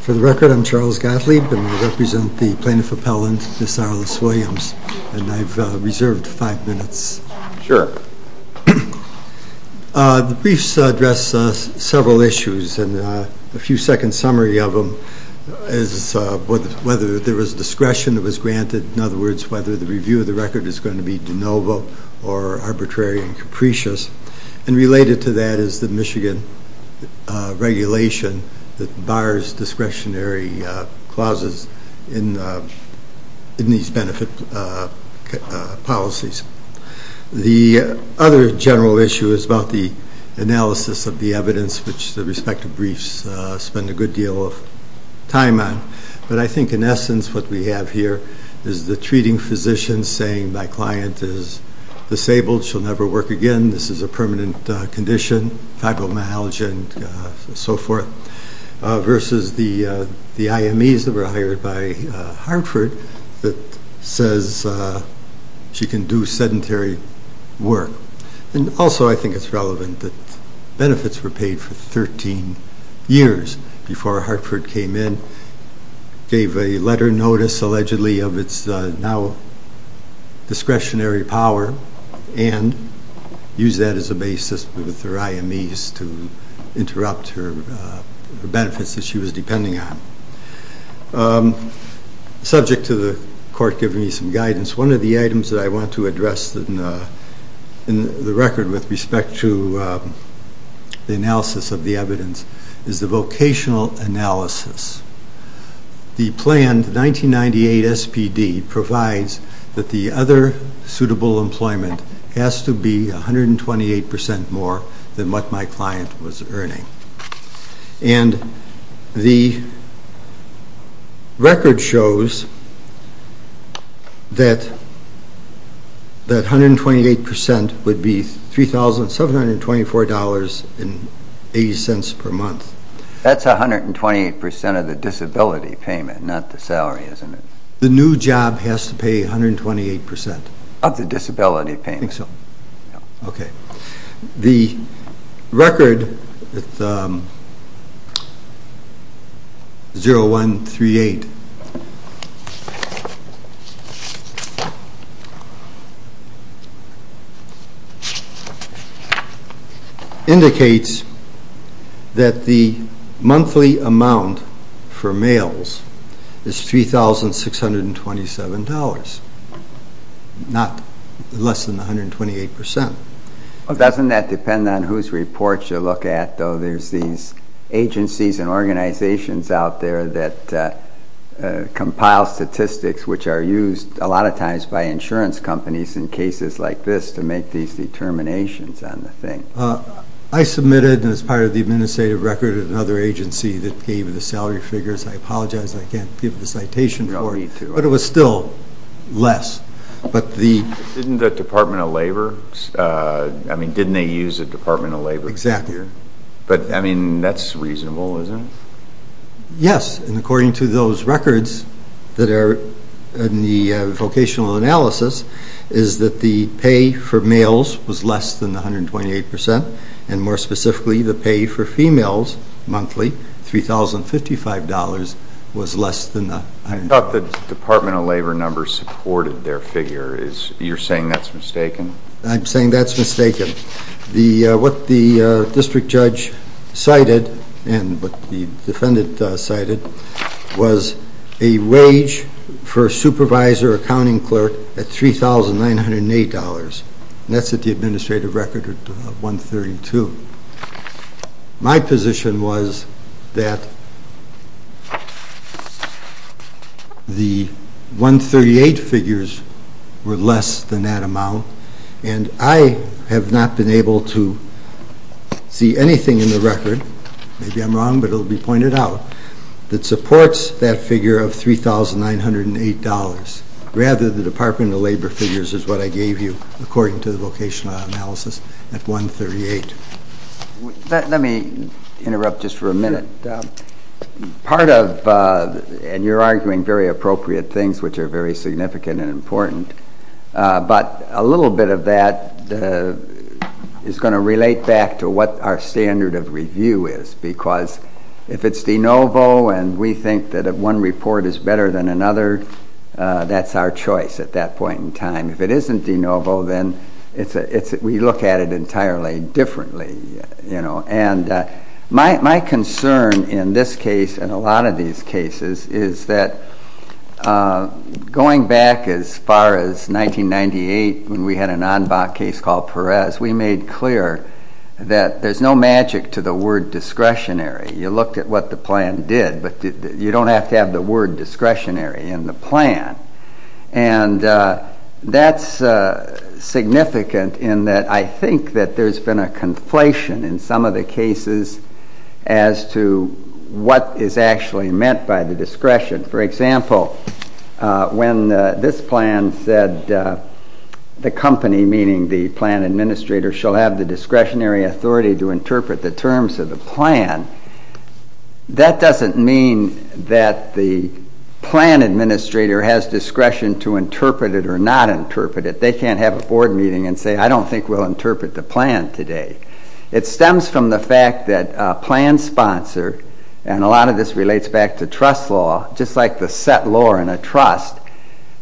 For the record, I'm Charles Gottlieb, and I represent the Plaintiff Appellant, Ms. Arlys Williams, and I've reserved five minutes. The briefs address several issues, and a few-second summary of them is whether there was discretion that was granted, in other words, whether the review of the record is going to be de novo or arbitrary and capricious, and related to that is the Michigan regulation that bars discretionary clauses in these benefit policies. The other general issue is about the analysis of the evidence, which the respective briefs spend a good deal of time on, but I think in essence what we have here is the treating physician saying my client is disabled, she'll never work again, this is a permanent condition, fibromyalgia, and so forth, versus the IMEs that were hired by Hartford that says she can do sedentary work. And also I think it's relevant that benefits were paid for 13 years before Hartford came in, gave a letter notice allegedly of its now discretionary power, and used that as a basis with her IMEs to interrupt her benefits that she was depending on. Subject to the court giving me some guidance, one of the items that I want to address in the record with respect to the analysis of the evidence is the vocational analysis. The planned 1998 SPD provides that the other suitable employment has to be 128% more than what my client was earning. And the record shows that 128% would be $3,724.80 per month. That's 128% of the disability payment, not the salary, isn't it? The new job has to pay 128%. Of the disability payment. I think so. Okay. Doesn't that depend on whose reports you look at, though? There's these agencies and organizations out there that compile statistics which are used a lot of times by insurance companies in cases like this to make these determinations on the thing. I submitted as part of the administrative record at another agency that gave the salary figures. I apologize, I can't give the citation for it. No need to. But it was still less. Didn't the Department of Labor, I mean, didn't they use a Department of Labor figure? Exactly. But, I mean, that's reasonable, isn't it? Yes, and according to those records that are in the vocational analysis is that the pay for males was less than 128%, and more specifically the pay for females monthly, $3,055, was less than 128%. I thought the Department of Labor number supported their figure. You're saying that's mistaken? I'm saying that's mistaken. What the district judge cited and what the defendant cited was a wage for a supervisor or accounting clerk at $3,908. And that's at the administrative record of 132. My position was that the 138 figures were less than that amount, and I have not been able to see anything in the record, maybe I'm wrong but it will be pointed out, that supports that figure of $3,908. Rather, the Department of Labor figures is what I gave you according to the vocational analysis at 138. Let me interrupt just for a minute. Sure. Part of, and you're arguing very appropriate things which are very significant and important, but a little bit of that is going to relate back to what our standard of review is. Because if it's de novo and we think that one report is better than another, that's our choice at that point in time. If it isn't de novo, then we look at it entirely differently. And my concern in this case and a lot of these cases is that going back as far as 1998 when we had an en bas case called Perez, we made clear that there's no magic to the word discretionary. You looked at what the plan did, but you don't have to have the word discretionary in the plan. And that's significant in that I think that there's been a conflation in some of the cases as to what is actually meant by the discretion. For example, when this plan said the company, meaning the plan administrator, shall have the discretionary authority to interpret the terms of the plan, that doesn't mean that the plan administrator has discretion to interpret it or not interpret it. They can't have a board meeting and say, I don't think we'll interpret the plan today. It stems from the fact that a plan sponsor, and a lot of this relates back to trust law, just like the set law in a trust,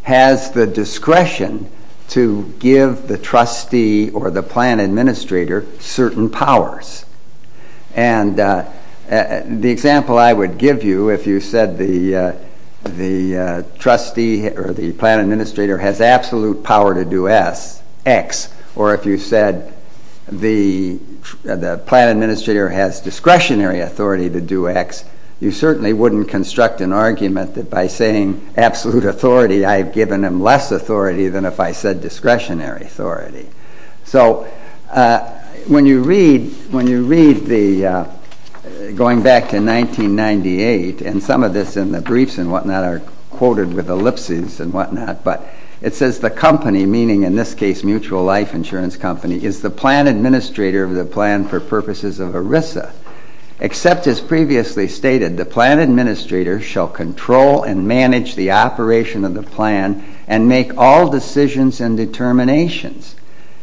has the discretion to give the trustee or the plan administrator certain powers. And the example I would give you, if you said the trustee or the plan administrator has absolute power to do X, or if you said the plan administrator has discretionary authority to do X, you certainly wouldn't construct an argument that by saying absolute authority I've given him less authority than if I said discretionary authority. So when you read, going back to 1998, and some of this in the briefs and whatnot are quoted with ellipses and whatnot, but it says the company, meaning in this case Mutual Life Insurance Company, is the plan administrator of the plan for purposes of ERISA, except, as previously stated, the plan administrator shall control and manage the operation of the plan and make all decisions and determinations.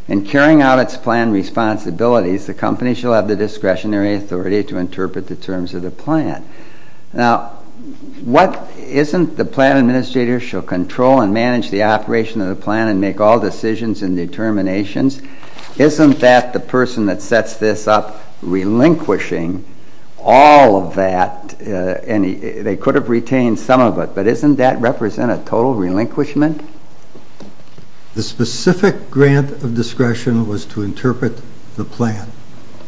In carrying out its plan responsibilities, the company shall have the discretionary authority to interpret the terms of the plan. Now, isn't the plan administrator shall control and manage the operation of the plan and make all decisions and determinations? Isn't that the person that sets this up relinquishing all of that? And they could have retained some of it, but doesn't that represent a total relinquishment? The specific grant of discretion was to interpret the plan.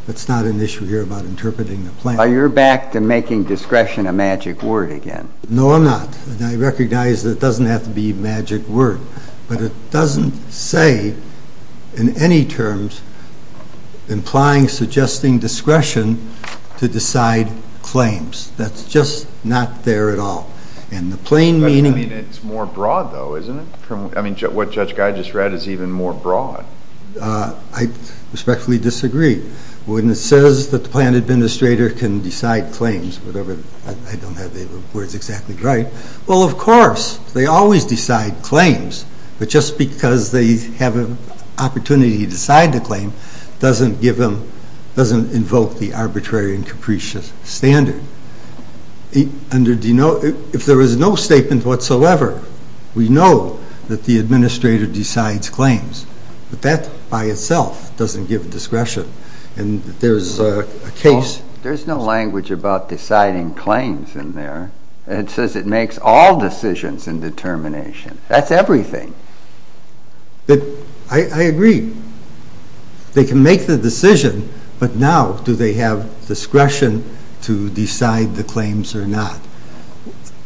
It's not an issue here about interpreting the plan. Are you back to making discretion a magic word again? No, I'm not. I recognize that it doesn't have to be a magic word, but it doesn't say in any terms implying suggesting discretion to decide claims. That's just not there at all. I mean, it's more broad, though, isn't it? I mean, what Judge Guy just read is even more broad. I respectfully disagree. When it says that the plan administrator can decide claims, whatever, I don't have the words exactly right. Well, of course, they always decide claims, but just because they have an opportunity to decide the claim doesn't invoke the arbitrary and capricious standard. If there is no statement whatsoever, we know that the administrator decides claims, but that by itself doesn't give discretion. There's no language about deciding claims in there. It says it makes all decisions and determinations. That's everything. I agree. They can make the decision, but now do they have discretion to decide the claims or not?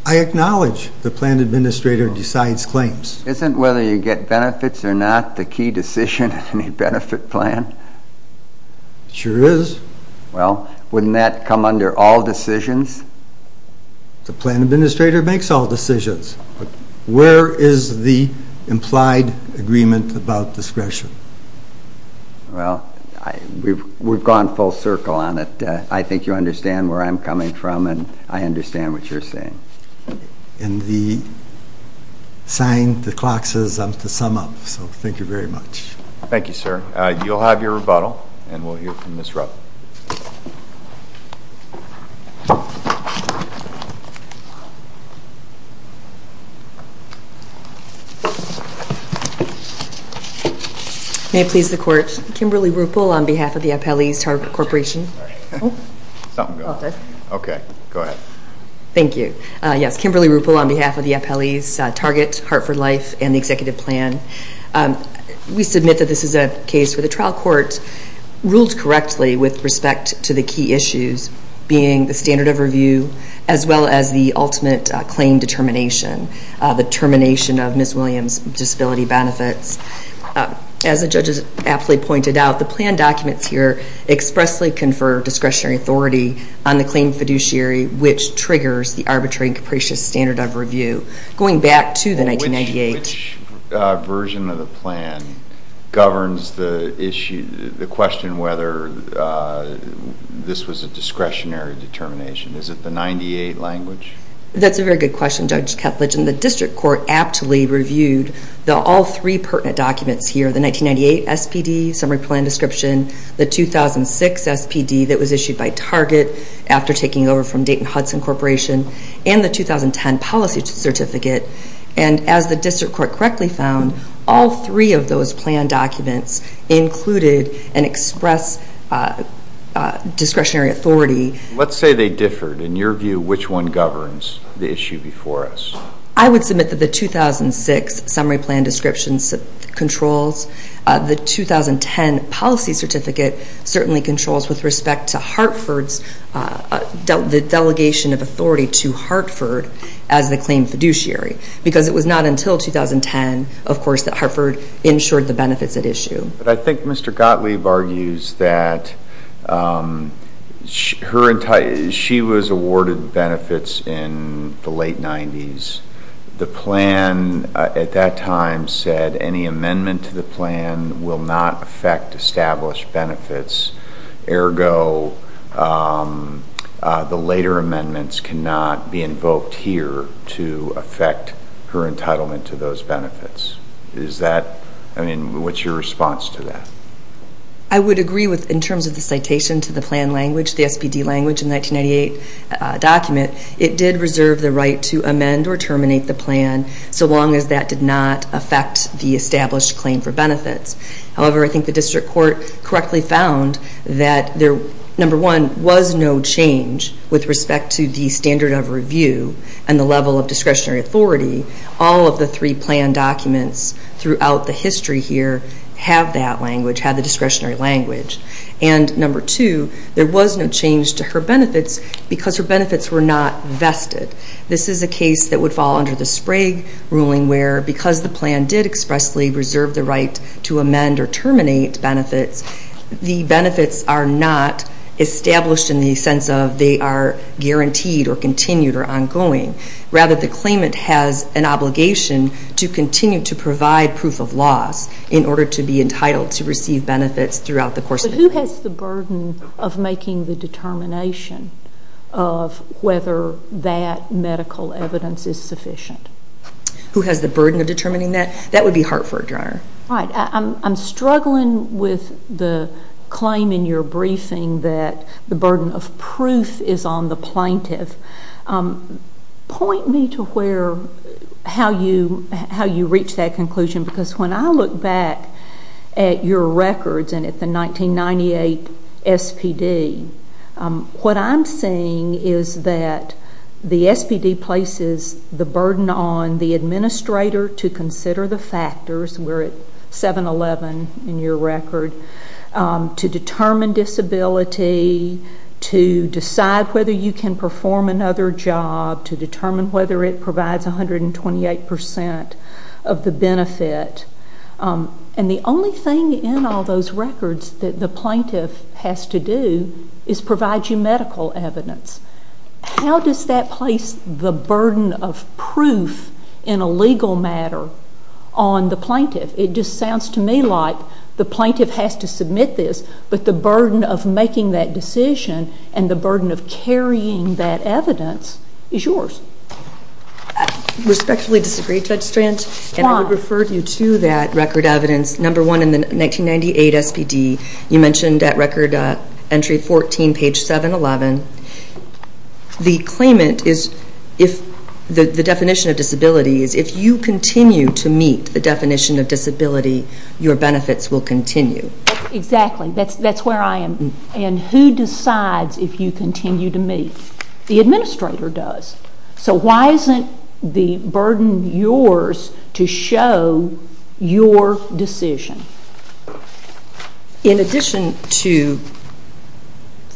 I acknowledge the plan administrator decides claims. Isn't whether you get benefits or not the key decision in any benefit plan? It sure is. Well, wouldn't that come under all decisions? The plan administrator makes all decisions, but where is the implied agreement about discretion? Well, we've gone full circle on it. I think you understand where I'm coming from, and I understand what you're saying. And the sign, the clock says I'm to sum up, so thank you very much. Thank you, sir. You'll have your rebuttal, and we'll hear from Ms. Rupp. Thank you. May it please the Court, Kimberly Ruppel on behalf of the Appellees Target Corporation. Something's going on. Okay, go ahead. Thank you. Yes, Kimberly Ruppel on behalf of the Appellees Target, Hartford Life, and the Executive Plan. We submit that this is a case where the trial court ruled correctly with respect to the key issues being the standard of review, as well as the ultimate claim determination, the termination of Ms. Williams' disability benefits. As the judges aptly pointed out, the plan documents here expressly confer discretionary authority on the claim fiduciary, which triggers the arbitrary and capricious standard of review. Going back to the 1998- Which version of the plan governs the issue, the question whether this was a discretionary determination? Is it the 98 language? That's a very good question, Judge Kepledge, and the district court aptly reviewed all three pertinent documents here, the 1998 SPD summary plan description, the 2006 SPD that was issued by Target after taking over from Dayton Hudson Corporation, and the 2010 policy certificate. And as the district court correctly found, all three of those plan documents included and express discretionary authority. Let's say they differed. In your view, which one governs the issue before us? I would submit that the 2006 summary plan description controls. The 2010 policy certificate certainly controls with respect to Hartford's delegation of authority to Hartford as the claim fiduciary, because it was not until 2010, of course, that Hartford insured the benefits at issue. But I think Mr. Gottlieb argues that she was awarded benefits in the late 90s. The plan at that time said any amendment to the plan will not affect established benefits. Ergo, the later amendments cannot be invoked here to affect her entitlement to those benefits. Is that, I mean, what's your response to that? I would agree with, in terms of the citation to the plan language, the SPD language in the 1998 document, it did reserve the right to amend or terminate the plan so long as that did not affect the established claim for benefits. However, I think the district court correctly found that, number one, there was no change with respect to the standard of review and the level of discretionary authority. All of the three plan documents throughout the history here have that language, have the discretionary language. And, number two, there was no change to her benefits because her benefits were not vested. This is a case that would fall under the Sprague ruling where, because the plan did expressly reserve the right to amend or terminate benefits, the benefits are not established in the sense of they are guaranteed or continued or ongoing. Rather, the claimant has an obligation to continue to provide proof of loss in order to be entitled to receive benefits throughout the course of the claim. But who has the burden of making the determination of whether that medical evidence is sufficient? Who has the burden of determining that? That would be Hartford, Your Honor. Right. I'm struggling with the claim in your briefing that the burden of proof is on the plaintiff. Point me to how you reach that conclusion because when I look back at your records and at the 1998 SPD, what I'm seeing is that the SPD places the burden on the administrator to consider the factors. We're at 7-11 in your record. To determine disability, to decide whether you can perform another job, to determine whether it provides 128% of the benefit. And the only thing in all those records that the plaintiff has to do is provide you medical evidence. How does that place the burden of proof in a legal matter on the plaintiff? It just sounds to me like the plaintiff has to submit this, but the burden of making that decision and the burden of carrying that evidence is yours. I respectfully disagree, Judge Strand. Why? And I would refer you to that record evidence, number one in the 1998 SPD. You mentioned that record entry 14, page 7-11. The definition of disability is if you continue to meet the definition of disability, your benefits will continue. Exactly. That's where I am. And who decides if you continue to meet? The administrator does. So why isn't the burden yours to show your decision? In addition to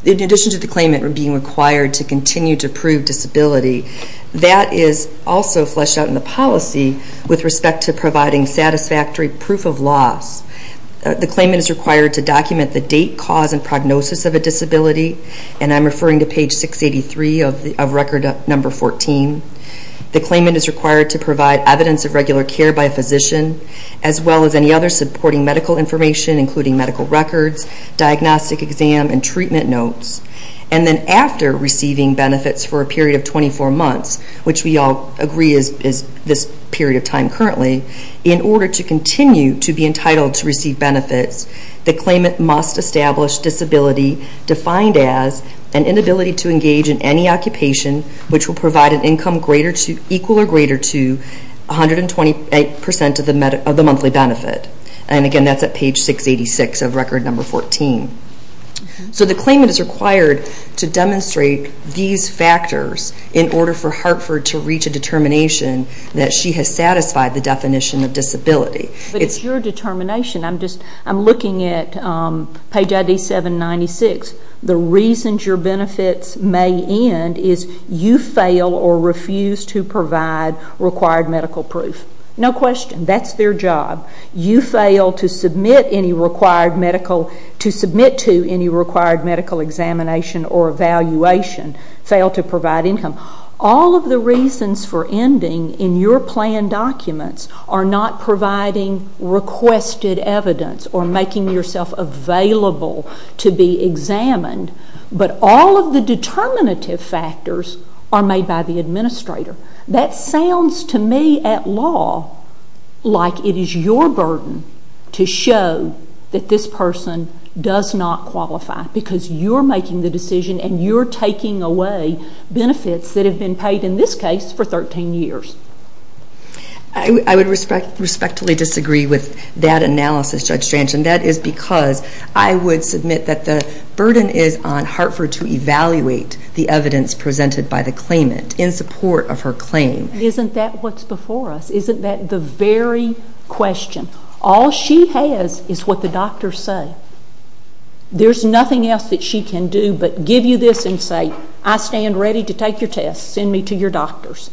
the claimant being required to continue to prove disability, that is also fleshed out in the policy with respect to providing satisfactory proof of loss. The claimant is required to document the date, cause, and prognosis of a disability, and I'm referring to page 683 of record number 14. The claimant is required to provide evidence of regular care by a physician, as well as any other supporting medical information, including medical records, diagnostic exam, and treatment notes. And then after receiving benefits for a period of 24 months, which we all agree is this period of time currently, in order to continue to be entitled to receive benefits, the claimant must establish disability defined as an inability to engage in any occupation which will provide an income equal or greater to 128% of the monthly benefit. And again, that's at page 686 of record number 14. So the claimant is required to demonstrate these factors in order for Hartford to reach a determination that she has satisfied the definition of disability. But it's your determination. I'm looking at page ID 796. The reasons your benefits may end is you fail or refuse to provide required medical proof. No question. That's their job. You fail to submit to any required medical examination or evaluation, fail to provide income. All of the reasons for ending in your plan documents are not providing requested evidence or making yourself available to be examined. But all of the determinative factors are made by the administrator. That sounds to me at law like it is your burden to show that this person does not qualify because you're making the decision and you're taking away benefits that have been paid in this case for 13 years. I would respectfully disagree with that analysis, Judge Strange, and that is because I would submit that the burden is on Hartford to evaluate the evidence presented by the claimant in support of her claim. Isn't that what's before us? Isn't that the very question? All she has is what the doctors say. There's nothing else that she can do but give you this and say, I stand ready to take your test. Send me to your doctors.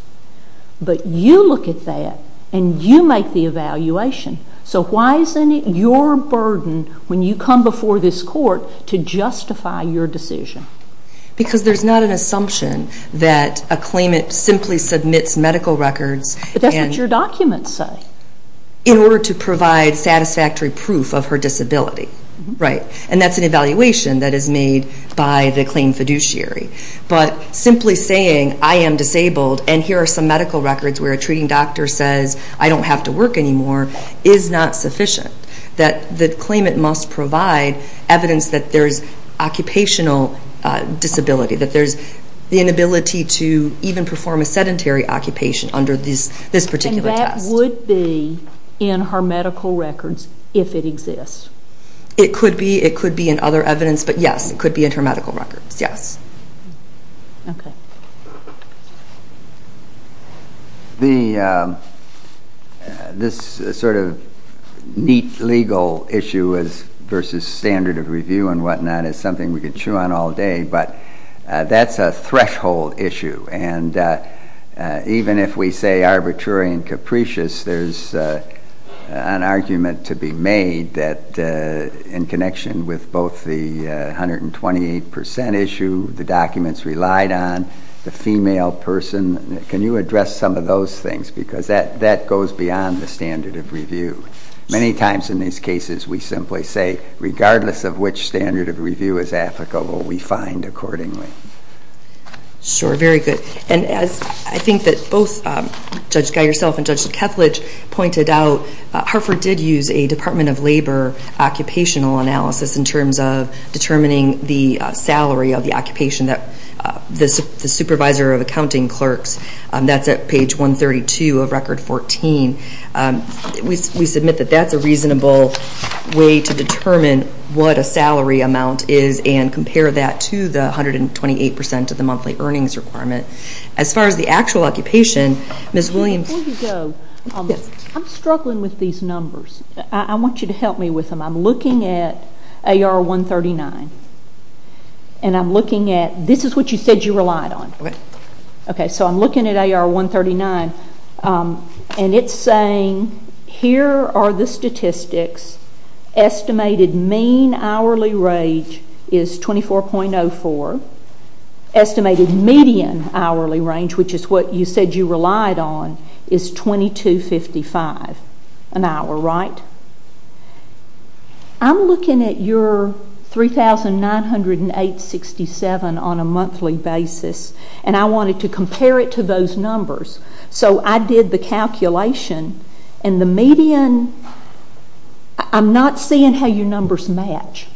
But you look at that and you make the evaluation. So why isn't it your burden when you come before this court to justify your decision? Because there's not an assumption that a claimant simply submits medical records. But that's what your documents say. In order to provide satisfactory proof of her disability. And that's an evaluation that is made by the claim fiduciary. But simply saying, I am disabled and here are some medical records where a treating doctor says, I don't have to work anymore, is not sufficient. The claimant must provide evidence that there's occupational disability, that there's the inability to even perform a sedentary occupation under this particular test. But that would be in her medical records if it exists. It could be. It could be in other evidence. But yes, it could be in her medical records. Yes. This sort of neat legal issue versus standard of review and whatnot is something we could chew on all day. But that's a threshold issue. And even if we say arbitrary and capricious, there's an argument to be made that in connection with both the 128 percent issue, the documents relied on, the female person. Can you address some of those things? Because that goes beyond the standard of review. Many times in these cases we simply say, regardless of which standard of review is applicable, we find accordingly. Sure. Very good. And as I think that both Judge Geigerself and Judge Cethledge pointed out, Hartford did use a Department of Labor occupational analysis in terms of determining the salary of the occupation. The supervisor of accounting clerks, that's at page 132 of Record 14. We submit that that's a reasonable way to determine what a salary amount is and compare that to the 128 percent of the monthly earnings requirement. As far as the actual occupation, Ms. Williams. Before you go, I'm struggling with these numbers. I want you to help me with them. I'm looking at AR 139, and I'm looking at, this is what you said you relied on. Okay. Okay, so I'm looking at AR 139, and it's saying, here are the statistics. Estimated mean hourly range is 24.04. Estimated median hourly range, which is what you said you relied on, is 2,255 an hour, right? I'm looking at your 3,908.67 on a monthly basis, and I wanted to compare it to those numbers. So I did the calculation, and the median, I'm not seeing how your numbers match,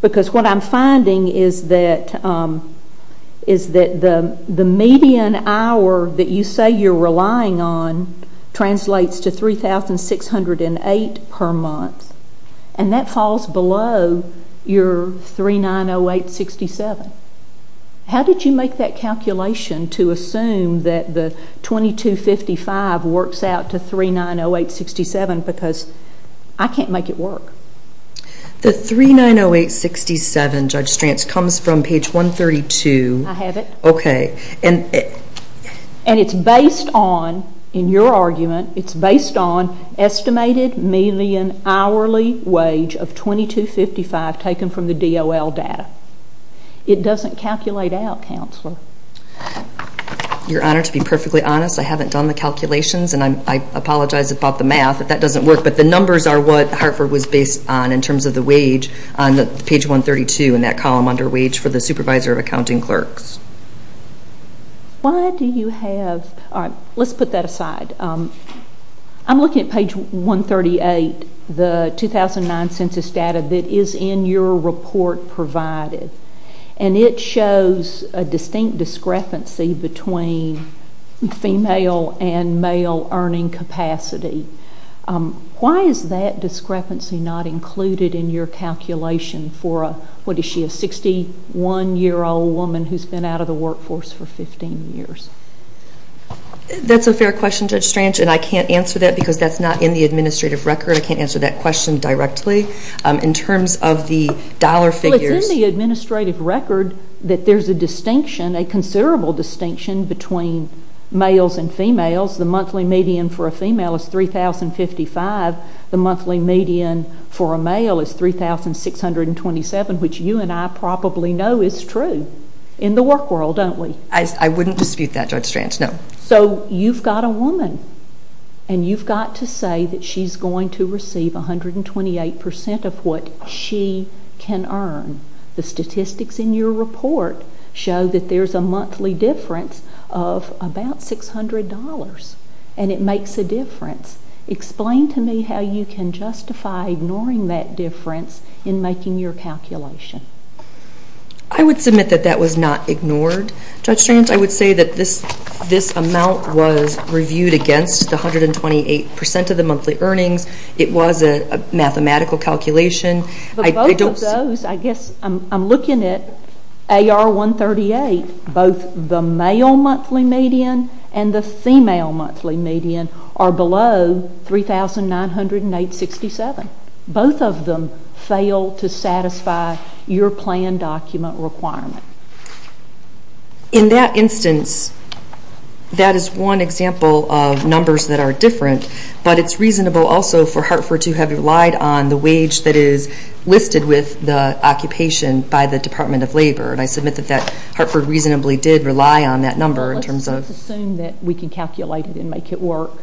because what I'm finding is that the median hour that you say you're relying on translates to 3,608 per month, and that falls below your 3,908.67. How did you make that calculation to assume that the 2,255 works out to 3,908.67, because I can't make it work. The 3,908.67, Judge Strantz, comes from page 132. I have it. Okay. And it's based on, in your argument, it's based on estimated median hourly wage of 2,255 taken from the DOL data. It doesn't calculate out, Counselor. Your Honor, to be perfectly honest, I haven't done the calculations, and I apologize about the math, that that doesn't work, but the numbers are what Hartford was based on in terms of the wage on page 132 in that column under wage for the supervisor of accounting clerks. Why do you have, all right, let's put that aside. I'm looking at page 138, the 2009 census data that is in your report provided, and it shows a distinct discrepancy between female and male earning capacity. Why is that discrepancy not included in your calculation for a, what is she, a 61-year-old woman who's been out of the workforce for 15 years? That's a fair question, Judge Strange, and I can't answer that because that's not in the administrative record. I can't answer that question directly. In terms of the dollar figures. Well, it's in the administrative record that there's a distinction, a considerable distinction between males and females. The monthly median for a female is 3,055. The monthly median for a male is 3,627, which you and I probably know is true in the work world, don't we? I wouldn't dispute that, Judge Strange, no. So you've got a woman, and you've got to say that she's going to receive 128% of what she can earn. The statistics in your report show that there's a monthly difference of about $600, and it makes a difference. Explain to me how you can justify ignoring that difference in making your calculation. I would submit that that was not ignored, Judge Strange. I would say that this amount was reviewed against the 128% of the monthly earnings. It was a mathematical calculation. But both of those, I guess I'm looking at AR-138, both the male monthly median and the female monthly median are below 3,967. Both of them fail to satisfy your plan document requirement. In that instance, that is one example of numbers that are different, but it's reasonable also for Hartford to have relied on the wage that is listed with the occupation by the Department of Labor. And I submit that Hartford reasonably did rely on that number in terms of Let's just assume that we can calculate it and make it work.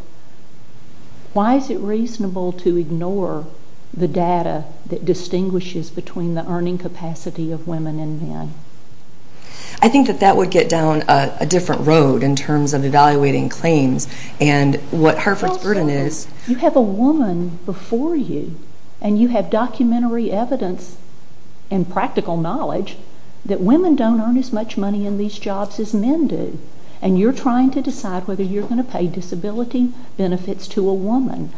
Why is it reasonable to ignore the data that distinguishes between the earning capacity of women and men? I think that that would get down a different road in terms of evaluating claims and what Hartford's burden is. You have a woman before you, and you have documentary evidence and practical knowledge that women don't earn as much money in these jobs as men do. And you're trying to decide whether you're going to pay disability benefits to a woman.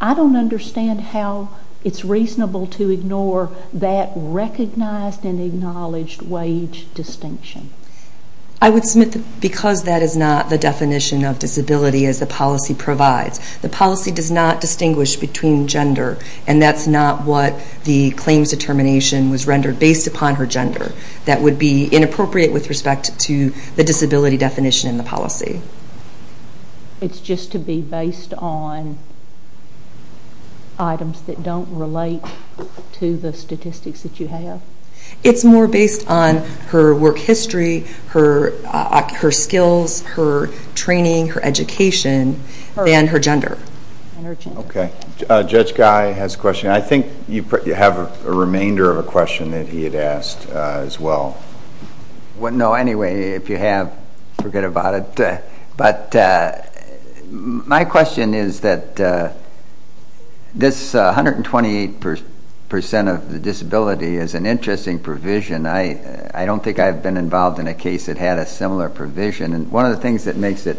I don't understand how it's reasonable to ignore that recognized and acknowledged wage distinction. I would submit that because that is not the definition of disability as the policy provides. The policy does not distinguish between gender, and that's not what the claims determination was rendered based upon her gender. That would be inappropriate with respect to the disability definition in the policy. It's just to be based on items that don't relate to the statistics that you have? It's more based on her work history, her skills, her training, her education, than her gender. Okay. Judge Guy has a question. I think you have a remainder of a question that he had asked as well. No, anyway, if you have, forget about it. But my question is that this 128% of the disability is an interesting provision. I don't think I've been involved in a case that had a similar provision. And one of the things that makes it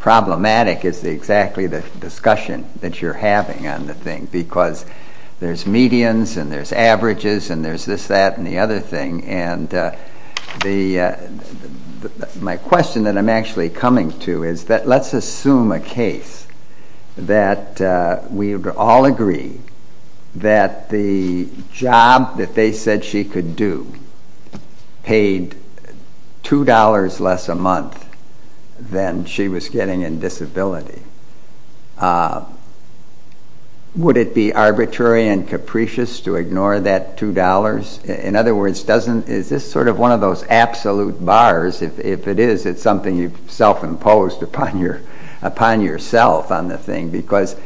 problematic is exactly the discussion that you're having on the thing, because there's medians and there's averages and there's this, that, and the other thing. And my question that I'm actually coming to is that let's assume a case that we would all agree that the job that they said she could do paid $2 less a month than she was getting in disability. Would it be arbitrary and capricious to ignore that $2? In other words, is this sort of one of those absolute bars? If it is, it's something you've self-imposed upon yourself on the thing, because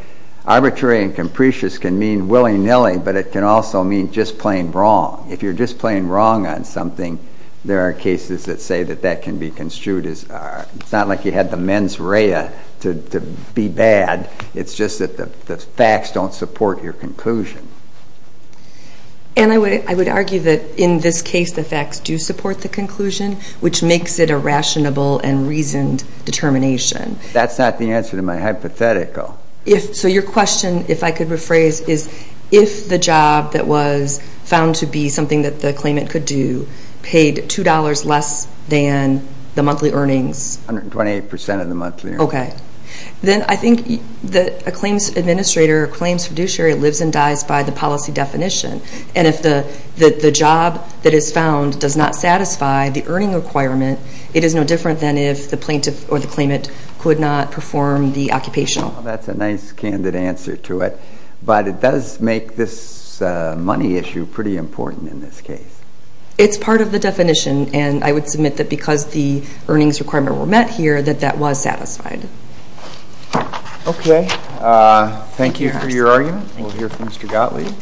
arbitrary and capricious can mean willy-nilly, but it can also mean just plain wrong. If you're just plain wrong on something, there are cases that say that that can be construed as, it's not like you had the mens rea to be bad. It's just that the facts don't support your conclusion. And I would argue that in this case the facts do support the conclusion, which makes it a rational and reasoned determination. But that's not the answer to my hypothetical. So your question, if I could rephrase, is if the job that was found to be something that the claimant could do paid $2 less than the monthly earnings? 128% of the monthly earnings. Okay. Then I think that a claims administrator or claims fiduciary lives and dies by the policy definition. And if the job that is found does not satisfy the earning requirement, it is no different than if the plaintiff or the claimant could not perform the occupational. That's a nice, candid answer to it. But it does make this money issue pretty important in this case. It's part of the definition, and I would submit that because the earnings requirement were met here, that that was satisfied. Okay. Thank you for your argument. We'll hear from Mr. Gottlieb.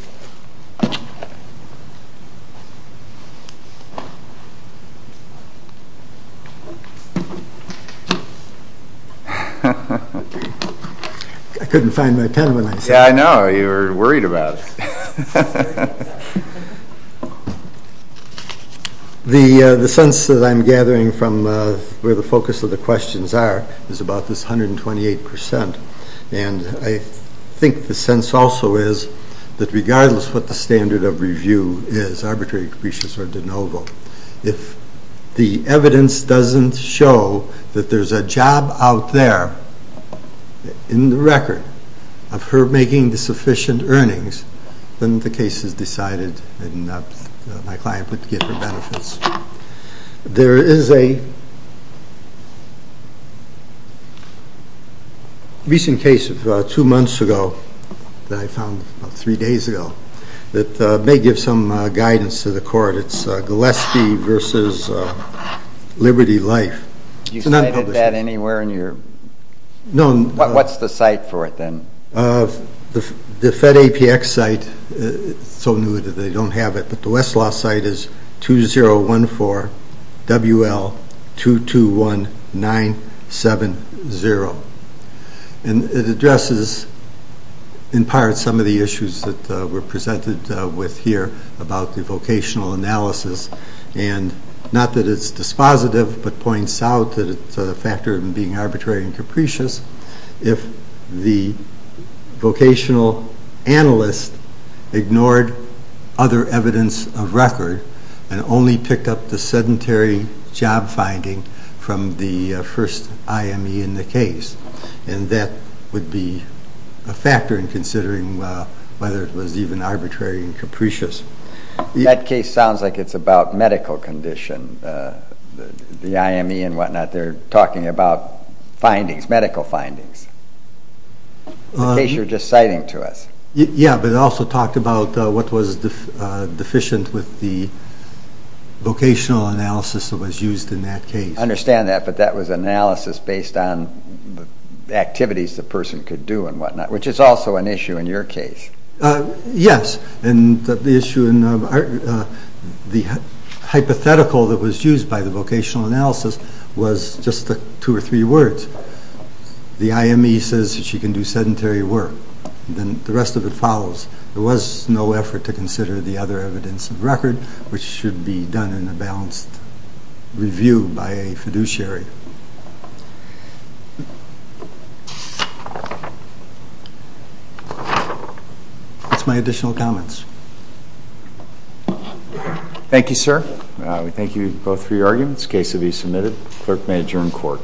I couldn't find my pen when I said that. Yeah, I know. You were worried about it. The sense that I'm gathering from where the focus of the questions are is about this 128%. And I think the sense also is that regardless what the standard of review is, arbitrary capricious or de novo, if the evidence doesn't show that there's a job out there in the record of her making the sufficient earnings, then the case is decided and my client would get her benefits. There is a recent case of about two months ago that I found about three days ago that may give some guidance to the court. It's Gillespie v. Liberty Life. You cited that anywhere in your? No. What's the site for it then? The FedAPX site is so new that they don't have it. But the Westlaw site is 2014 WL221970. And it addresses, in part, some of the issues that were presented with here about the vocational analysis. And not that it's dispositive, but points out that it's a factor in being arbitrary and capricious if the vocational analyst ignored other evidence of record and only picked up the sedentary job finding from the first IME in the case. And that would be a factor in considering whether it was even arbitrary and capricious. That case sounds like it's about medical condition, the IME and whatnot. They're talking about findings, medical findings. The case you're just citing to us. Yeah, but it also talked about what was deficient with the vocational analysis that was used in that case. I understand that, but that was analysis based on activities the person could do and whatnot, which is also an issue in your case. Yes, and the hypothetical that was used by the vocational analysis was just two or three words. The IME says that she can do sedentary work. The rest of it follows. There was no effort to consider the other evidence of record, which should be done in a balanced review by a fiduciary. That's my additional comments. Thank you, sir. We thank you both for your arguments. Case to be submitted. Clerk may adjourn court.